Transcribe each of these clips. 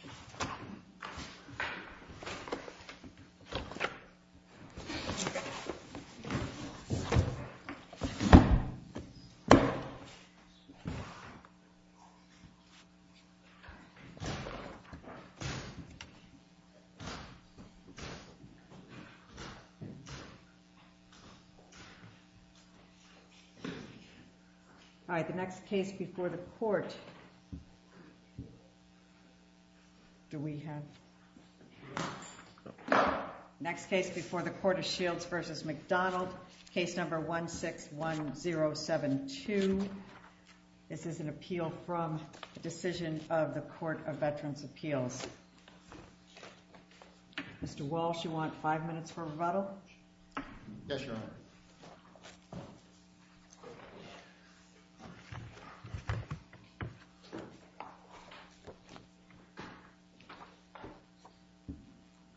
v. McDonald 161072 Mr. Walsh you want five minutes for rebuttal? Yes, Your Honor.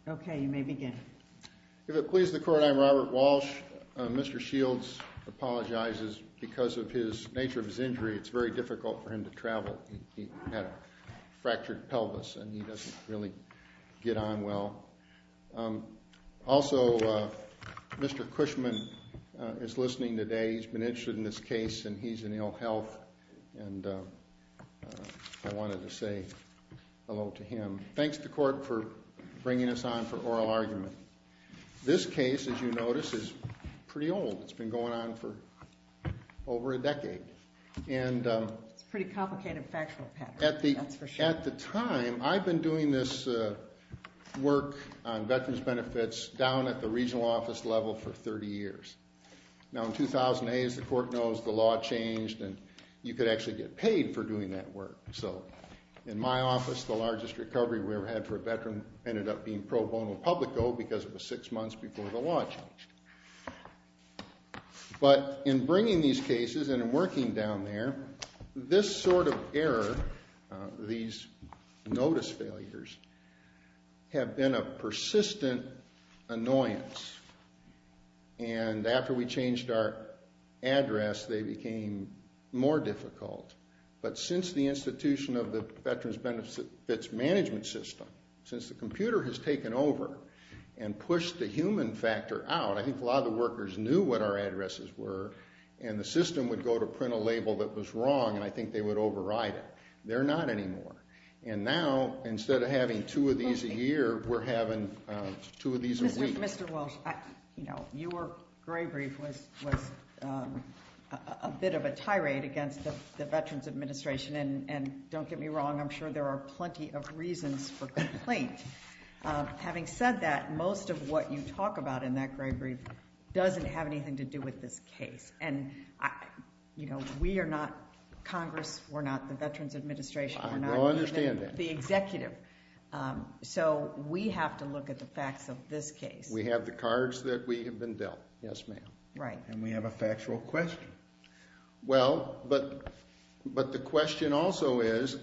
Okay, you may begin. If it pleases the court, I'm Robert Walsh. Mr. Shields apologizes because of the nature of his injury. It's very difficult for him to travel. He had a fractured pelvis and he doesn't really get on well. Also, Mr. Cushman is listening today. He's been interested in this case and he's in ill health. And I wanted to say hello to him. Thanks to the court for bringing us on for oral argument. This case, as you notice, is pretty old. It's been going on for over a decade. It's a pretty complicated factual pattern, that's for sure. At the time, I'd been doing this work on veterans benefits down at the regional office level for 30 years. Now in 2008, as the court knows, the law changed and you could actually get paid for doing that work. So in my office, the largest recovery we ever had for a veteran ended up being pro bono publico because it was six months before the law changed. But in bringing these cases and in working down there, this sort of error, these notice failures, have been a persistent annoyance. And after we changed our address, they became more difficult. But since the institution of the veterans benefits management system, since the computer has taken over and pushed the human factor out, I think a lot of the workers knew what our addresses were and the system would go to print a label that was wrong, and I think they would override it. They're not anymore. And now, instead of having two of these a year, we're having two of these a week. Mr. Walsh, your gray brief was a bit of a tirade against the Veterans Administration, and don't get me wrong, I'm sure there are plenty of reasons for complaint. Having said that, most of what you talk about in that gray brief doesn't have anything to do with this case. And, you know, we are not Congress, we're not the Veterans Administration, we're not even the executive. So we have to look at the facts of this case. We have the cards that we have been dealt, yes, ma'am. Right. And we have a factual question. Well, but the question also is,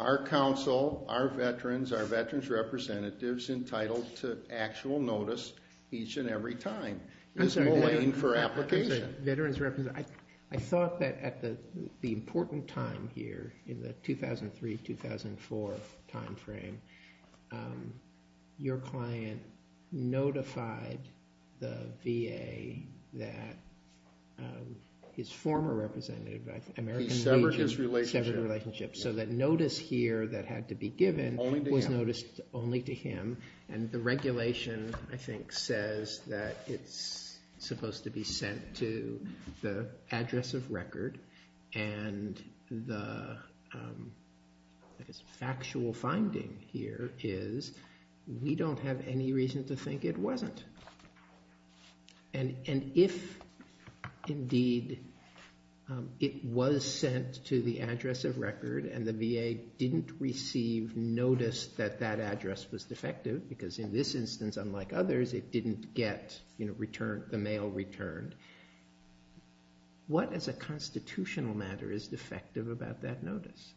our council, our veterans, our veterans' representatives entitled to actual notice each and every time. I'm sorry. It's mulling for application. Veterans' representatives. I thought that at the important time here, in the 2003-2004 time frame, your client notified the VA that his former representative, American Legion. He severed his relationship. Severed his relationship. So that notice here that had to be given was noticed only to him. And the regulation, I think, says that it's supposed to be sent to the address of record. And the factual finding here is we don't have any reason to think it wasn't. And if, indeed, it was sent to the address of record and the VA didn't receive notice that that address was defective, because in this instance, unlike others, it didn't get the mail returned, what as a constitutional matter is defective about that notice?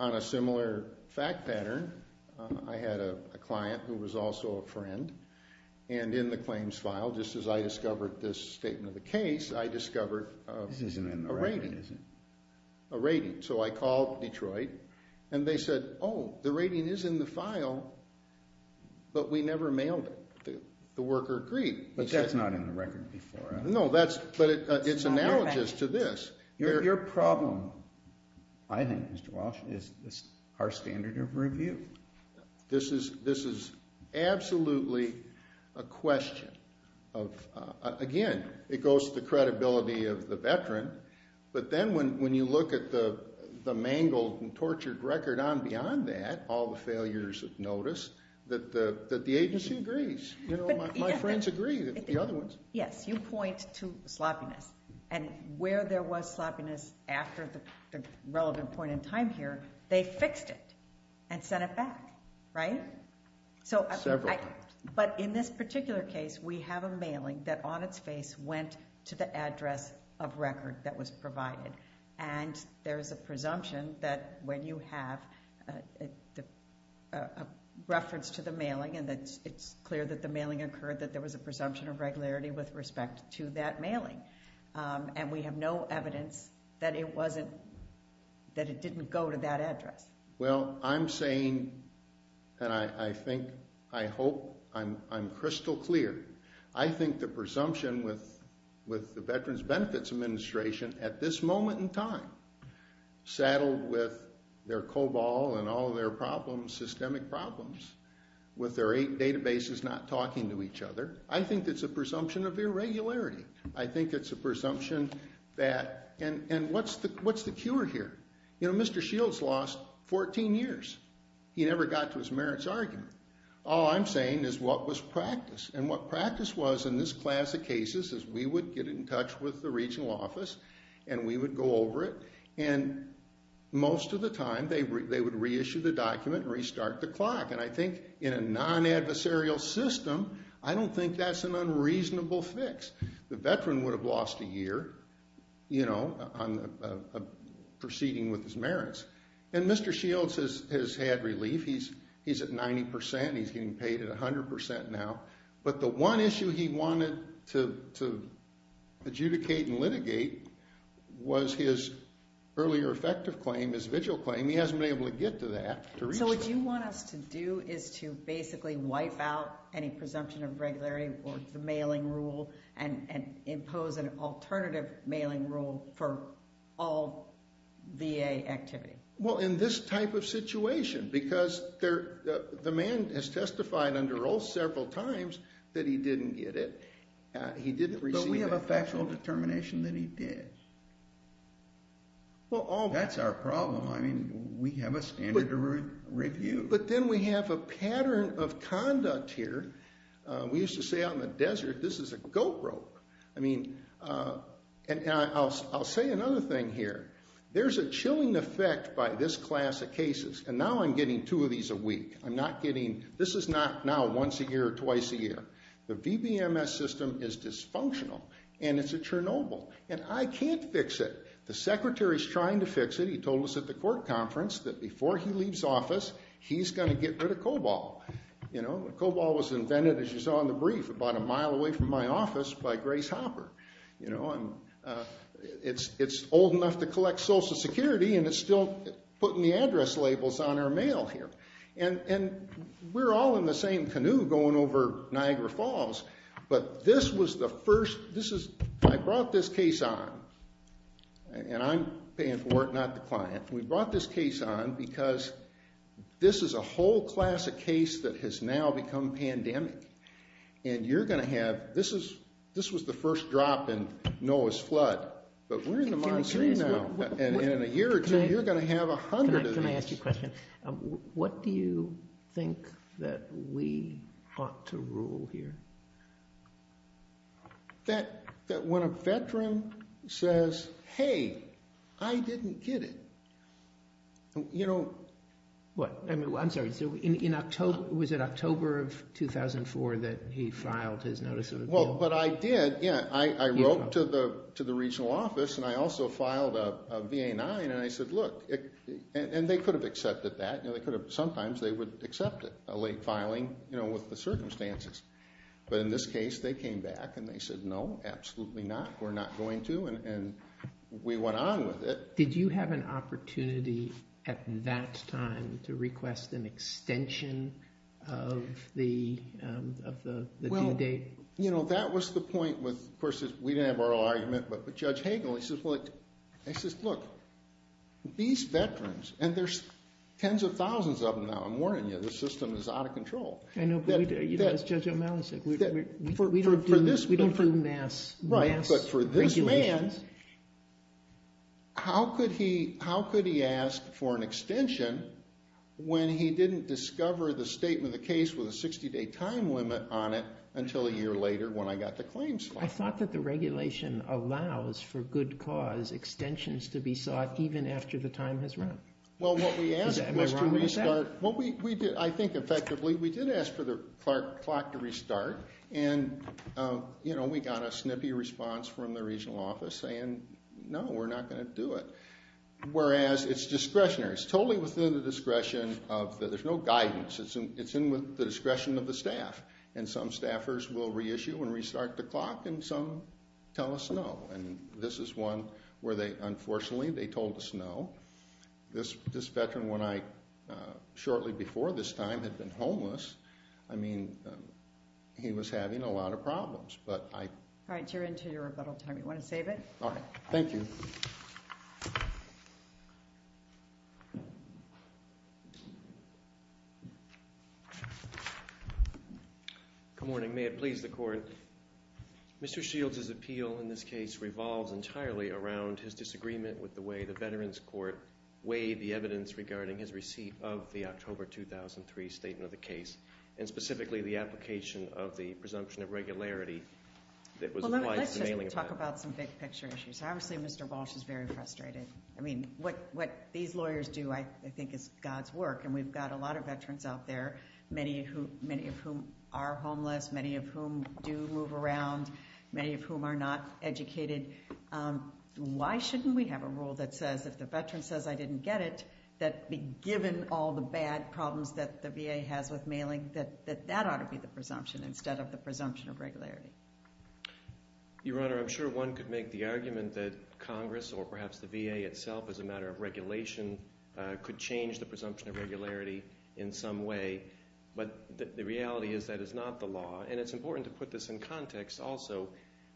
On a similar fact pattern, I had a client who was also a friend, and in the claims file, just as I discovered this statement of the case, I discovered a rating. This isn't in the record, is it? A rating. So I called Detroit, and they said, oh, the rating is in the file, but we never mailed it. The worker agreed. But that's not in the record before, is it? No, but it's analogous to this. Your problem, I think, Mr. Walsh, is our standard of review. This is absolutely a question of, again, it goes to the credibility of the veteran, but then when you look at the mangled and tortured record on beyond that, all the failures of notice, that the agency agrees. My friends agree, the other ones. Yes, you point to sloppiness. And where there was sloppiness after the relevant point in time here, they fixed it and sent it back, right? Several times. But in this particular case, we have a mailing that, on its face, went to the address of record that was provided, and there is a presumption that when you have a reference to the mailing and it's clear that the mailing occurred, that there was a presumption of regularity with respect to that mailing. And we have no evidence that it didn't go to that address. Well, I'm saying, and I think, I hope, I'm crystal clear. I think the presumption with the Veterans Benefits Administration, at this moment in time, saddled with their COBOL and all their problems, with their eight databases not talking to each other, I think it's a presumption of irregularity. I think it's a presumption that, and what's the cure here? You know, Mr. Shields lost 14 years. He never got to his merits argument. All I'm saying is what was practice, and what practice was in this class of cases is we would get in touch with the regional office and we would go over it, and most of the time they would reissue the document and restart the clock. And I think in a non-adversarial system, I don't think that's an unreasonable fix. The veteran would have lost a year, you know, proceeding with his merits. And Mr. Shields has had relief. He's at 90%. He's getting paid at 100% now. But the one issue he wanted to adjudicate and litigate was his earlier effective claim, his vigil claim. He hasn't been able to get to that. So what you want us to do is to basically wipe out any presumption of irregularity or the mailing rule and impose an alternative mailing rule for all VA activity. Well, in this type of situation, because the man has testified under oath several times that he didn't get it. He didn't receive it. But we have a factual determination that he did. That's our problem. I mean, we have a standard of review. But then we have a pattern of conduct here. We used to say out in the desert, this is a goat rope. I mean, and I'll say another thing here. There's a chilling effect by this class of cases. And now I'm getting two of these a week. I'm not getting, this is not now once a year or twice a year. The VBMS system is dysfunctional. And it's a Chernobyl. And I can't fix it. The Secretary's trying to fix it. He told us at the court conference that before he leaves office, he's going to get rid of COBOL. COBOL was invented, as you saw in the brief, about a mile away from my office by Grace Hopper. It's old enough to collect Social Security. And it's still putting the address labels on our mail here. And we're all in the same canoe going over Niagara Falls. But this was the first. I brought this case on. And I'm paying for it, not the client. We brought this case on because this is a whole class of case that has now become pandemic. And you're going to have, this was the first drop in Noah's Flood. But we're in a monsoon now. And in a year or two, you're going to have a hundred of these. Can I ask you a question? What do you think that we ought to rule here? That when a veteran says, hey, I didn't get it, you know. What? I'm sorry. Was it October of 2004 that he filed his notice of withdrawal? Well, but I did. I wrote to the regional office. And I also filed a VA-9. And I said, look. And they could have accepted that. Sometimes they would accept it, a late filing with the circumstances. But in this case, they came back. And they said, no, absolutely not. We're not going to. And we went on with it. Did you have an opportunity at that time to request an extension of the due date? Well, you know, that was the point with, of course, we didn't have oral argument. But Judge Hagel, he says, look. He says, look. These veterans, and there's tens of thousands of them now. I'm warning you. The system is out of control. I know. But as Judge O'Malley said, we don't do mass regulations. Right. But for this man, how could he ask for an extension when he didn't discover the statement of the case with a 60-day time limit on it until a year later when I got the claims file? I thought that the regulation allows for good cause extensions to be sought even after the time has run. Am I wrong with that? Well, we did, I think, effectively, we did ask for the clock to restart. And, you know, we got a snippy response from the regional office saying, no, we're not going to do it. Whereas it's discretionary. It's totally within the discretion of the, there's no guidance. It's in with the discretion of the staff. And some staffers will reissue and restart the clock and some tell us no. And this is one where they, unfortunately, they told us no. This veteran, when I, shortly before this time, had been homeless, I mean, he was having a lot of problems. But I. All right, you're into your rebuttal time. You want to save it? All right. Good morning. May it please the court. Mr. Shields' appeal in this case revolves entirely around his disagreement with the way the Veterans Court weighed the evidence regarding his receipt of the October 2003 statement of the case. And specifically, the application of the presumption of regularity. Let's just talk about some big picture issues. Obviously, Mr. Walsh is very frustrated. I mean, what these lawyers do, I think, is God's work. And we've got a lot of veterans out there. Many of whom are homeless. Many of whom do move around. Many of whom are not educated. Why shouldn't we have a rule that says if the veteran says I didn't get it, that be given all the bad problems that the VA has with mailing, that that ought to be the presumption instead of the presumption of regularity. Your Honor, I'm sure one could make the argument that Congress, or perhaps the VA itself as a matter of regulation, could change the presumption of regularity in some way. But the reality is that is not the law. And it's important to put this in context also.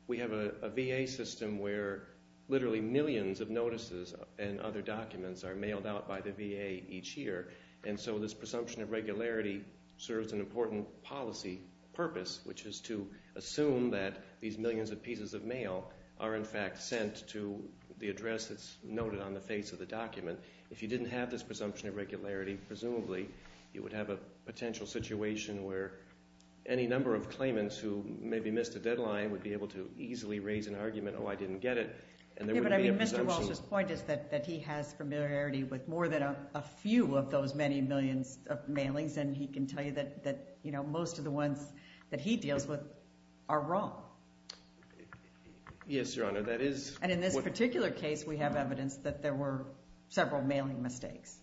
We have a VA system where literally millions of notices and other documents are mailed out by the VA each year. And so this presumption of regularity serves an important policy purpose, which is to assume that these millions of pieces of mail are in fact sent to the address that's noted on the face of the document. If you didn't have this presumption of regularity, presumably, you would have a potential situation where any number of claimants who maybe missed a deadline would be able to easily raise an argument, oh, I didn't get it. But I mean, Mr. Walsh's point is that he has familiarity with more than a few of those many millions of mailings. And he can tell you that most of the ones that he deals with are wrong. Yes, Your Honor. And in this particular case, we have evidence that there were several mailing mistakes.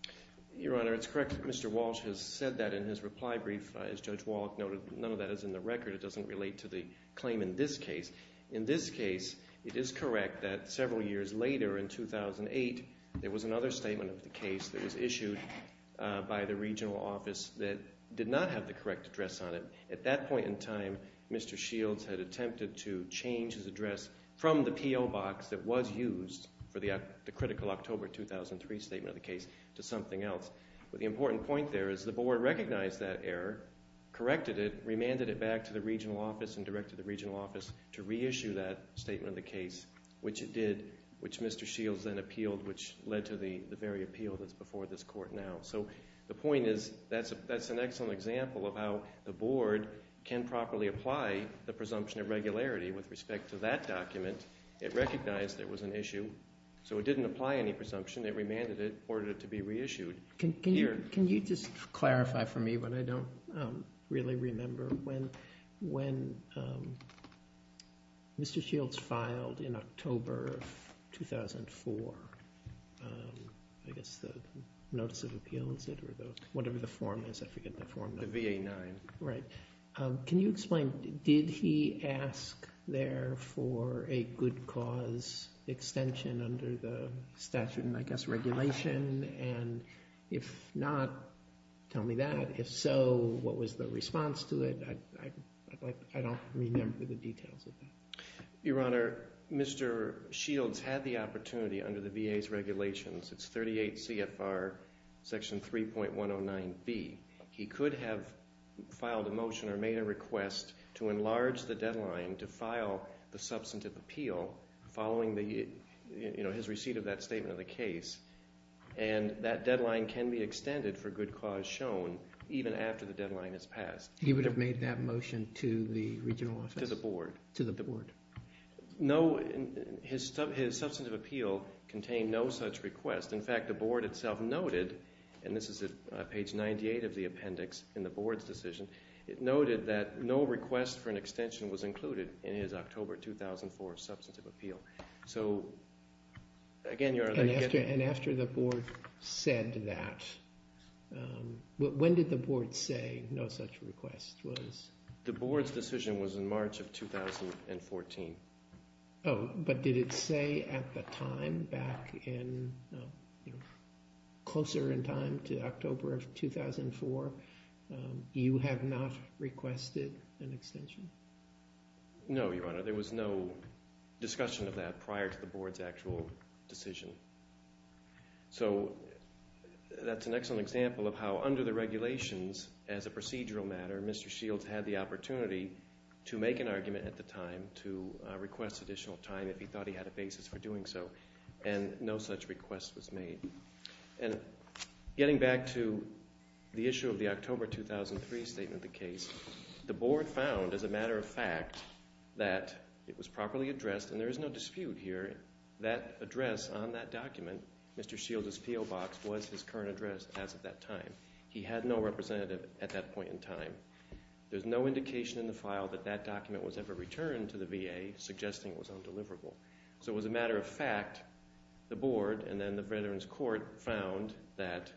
Your Honor, it's correct that Mr. Walsh has said that in his reply brief. As Judge Wallach noted, none of that is in the record. It doesn't relate to the claim in this case. In this case, it is correct that several years later, in 2008, there was another statement of the case that was issued by the regional office that did not have the correct address on it. At that point in time, Mr. Shields had attempted to change his address from the PO box that was used for the critical October 2003 statement of the case to something else. But the important point there is the board recognized that error, corrected it, remanded it back to the regional office and directed the regional office to reissue that statement of the case, which it did, which Mr. Shields then appealed, which led to the very appeal that's before this court now. So the point is that's an excellent example of how the board can properly apply the presumption of regularity with respect to that document. It recognized there was an issue, so it didn't apply any presumption. It remanded it, ordered it to be reissued. Can you just clarify for me what I don't really remember? When Mr. Shields filed in October of 2004, I guess the notice of appeal, is it? Or whatever the form is. I forget the form. The VA-9. Right. Can you explain, did he ask there for a good cause extension under the statute and, I guess, regulation? And if not, tell me that. If so, what was the response to it? I don't remember the details of that. Your Honor, Mr. Shields had the opportunity under the VA's regulations. It's 38 CFR section 3.109B. He could have filed a motion or made a request to enlarge the deadline to file the substantive appeal following his receipt of that statement of the case. And that deadline can be extended for good cause shown even after the deadline has passed. He would have made that motion to the regional office? To the board. To the board. No, his substantive appeal contained no such request. In fact, the board itself noted, and this is at page 98 of the appendix in the board's decision, it noted that no request for an extension was included in his October 2004 substantive appeal. So, again, Your Honor. And after the board said that, when did the board say no such request was? The board's decision was in March of 2014. Oh, but did it say at the time back in, you know, closer in time to October of 2004, you have not requested an extension? No, Your Honor. There was no discussion of that prior to the board's actual decision. So that's an excellent example of how under the regulations, as a procedural matter, Mr. Shields had the opportunity to make an argument at the time to request additional time if he thought he had a basis for doing so, and no such request was made. And getting back to the issue of the October 2003 statement of the case, the board found, as a matter of fact, that it was properly addressed, and there is no dispute here, that address on that document, Mr. Shields' PO Box, was his current address as of that time. He had no representative at that point in time. There's no indication in the file that that document was ever returned to the VA, suggesting it was undeliverable. So as a matter of fact, the board and then the Veterans Court found that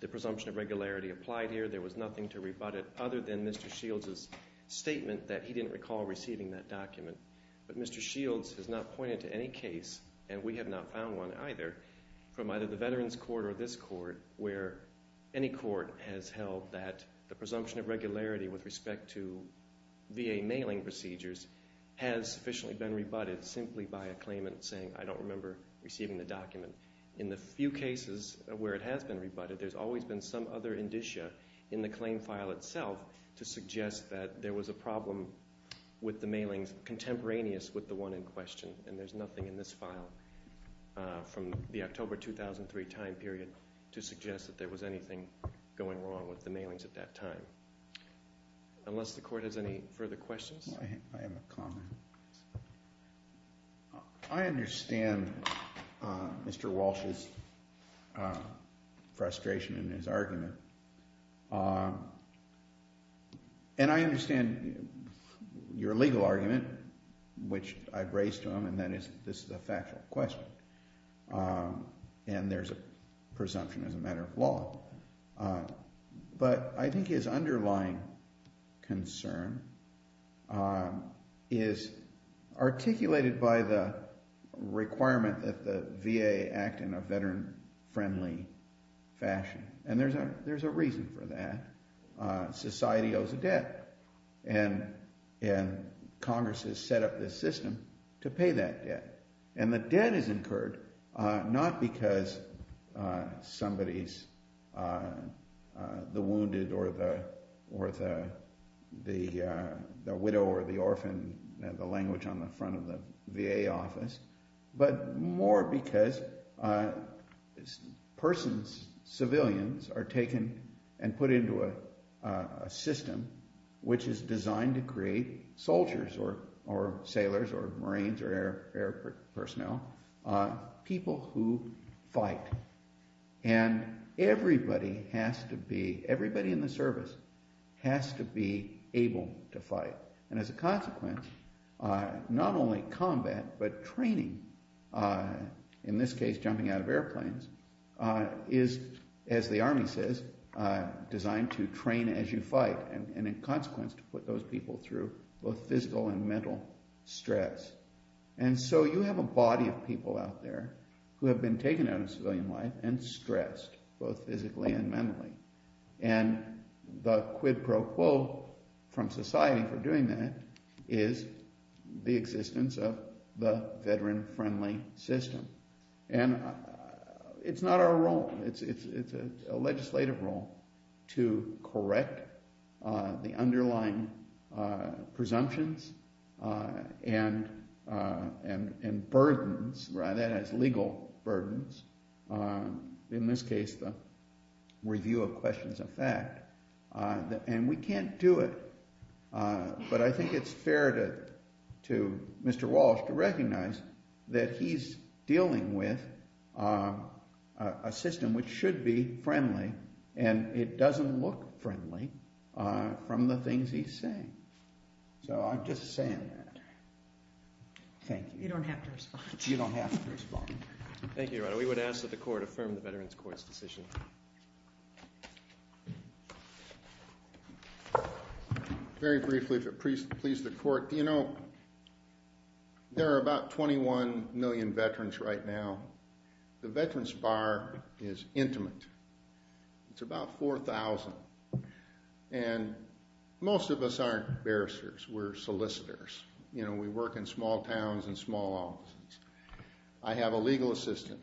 the presumption of regularity applied here. There was nothing to rebut it other than Mr. Shields' statement that he didn't recall receiving that document. But Mr. Shields has not pointed to any case, and we have not found one either, from either the Veterans Court or this court, where any court has held that the presumption of regularity with respect to VA mailing procedures has sufficiently been rebutted simply by a claimant saying, I don't remember receiving the document. In the few cases where it has been rebutted, there's always been some other indicia in the claim file itself to suggest that there was a problem with the mailings contemporaneous with the one in question, and there's nothing in this file from the October 2003 time period to suggest that there was anything going wrong with the mailings at that time. Unless the court has any further questions? I have a comment. I understand Mr. Walsh's frustration in his argument, and I understand your legal argument, which I've raised to him, and that is this is a factual question, and there's a presumption as a matter of law. But I think his underlying concern is articulated by the requirement that the VA act in a veteran-friendly fashion, and there's a reason for that. Society owes a debt, and Congress has set up this system to pay that debt. And the debt is incurred not because somebody's the wounded or the widow or the orphan, the language on the front of the VA office, but more because persons, civilians, are taken and put into a system which is designed to create soldiers or sailors or Marines or air personnel, people who fight. And everybody has to be, everybody in the service has to be able to fight. And as a consequence, not only combat, but training, in this case jumping out of airplanes, is, as the Army says, designed to train as you fight, and in consequence to put those people through both physical and mental stress. And so you have a body of people out there who have been taken out of civilian life and stressed, both physically and mentally. And the quid pro quo from society for doing that is the existence of the veteran-friendly system. And it's not our role, it's a legislative role to correct the underlying presumptions and burdens, that is, legal burdens. In this case, the review of questions of fact. And we can't do it, but I think it's fair to Mr. Walsh to recognize that he's dealing with a system which should be friendly, and it doesn't look friendly from the things he's saying. So I'm just saying that. Thank you. You don't have to respond. You don't have to respond. Thank you, Your Honor. We would ask that the Court affirm the Veterans Court's decision. Very briefly, if it pleases the Court, you know, there are about 21 million veterans right now. The Veterans Bar is intimate. It's about 4,000. And most of us aren't barristers. We're solicitors. You know, we work in small towns and small offices. I have a legal assistant.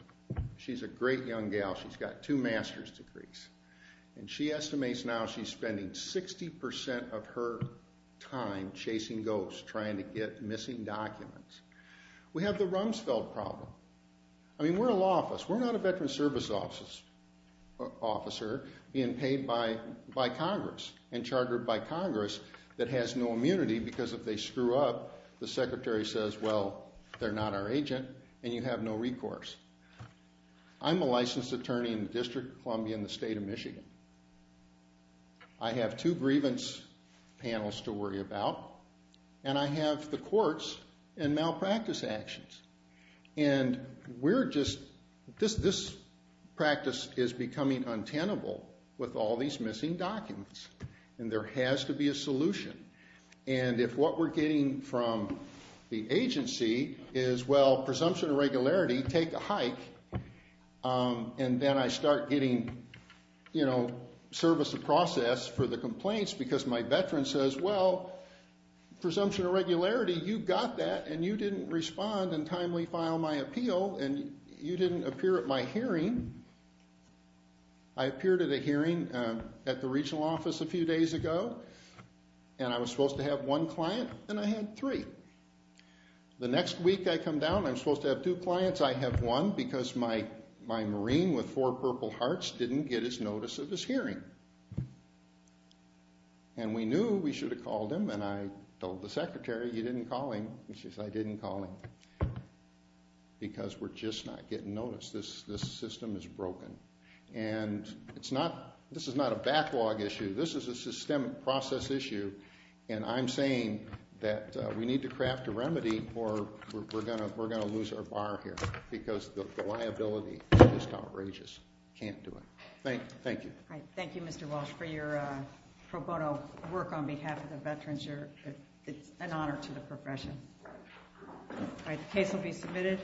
She's a great young gal. She's got two master's degrees. And she estimates now she's spending 60% of her time chasing ghosts, trying to get missing documents. We have the Rumsfeld problem. I mean, we're a law office. We're not a Veterans Service Officer being paid by Congress and chartered by Congress that has no immunity because if they screw up, the secretary says, well, they're not our agent, and you have no recourse. I'm a licensed attorney in the District of Columbia in the state of Michigan. I have two grievance panels to worry about, and I have the courts and malpractice actions. And we're just this practice is becoming untenable with all these missing documents. And there has to be a solution. And if what we're getting from the agency is, well, presumption of regularity, take a hike, and then I start getting service of process for the complaints because my veteran says, well, presumption of regularity, you got that, and you didn't respond and timely file my appeal, and you didn't appear at my hearing. I appeared at a hearing at the regional office a few days ago, and I was supposed to have one client, and I had three. The next week I come down, I'm supposed to have two clients. I have one because my Marine with four purple hearts didn't get his notice of his hearing. And we knew we should have called him, and I told the secretary, you didn't call him. And she said, I didn't call him because we're just not getting notice. This system is broken. And this is not a backlog issue. This is a systemic process issue, and I'm saying that we need to craft a remedy or we're going to lose our bar here because the liability is just outrageous. Can't do it. Thank you. All right, thank you, Mr. Walsh, for your pro bono work on behalf of the veterans. It's an honor to the profession. All right, the case will be submitted.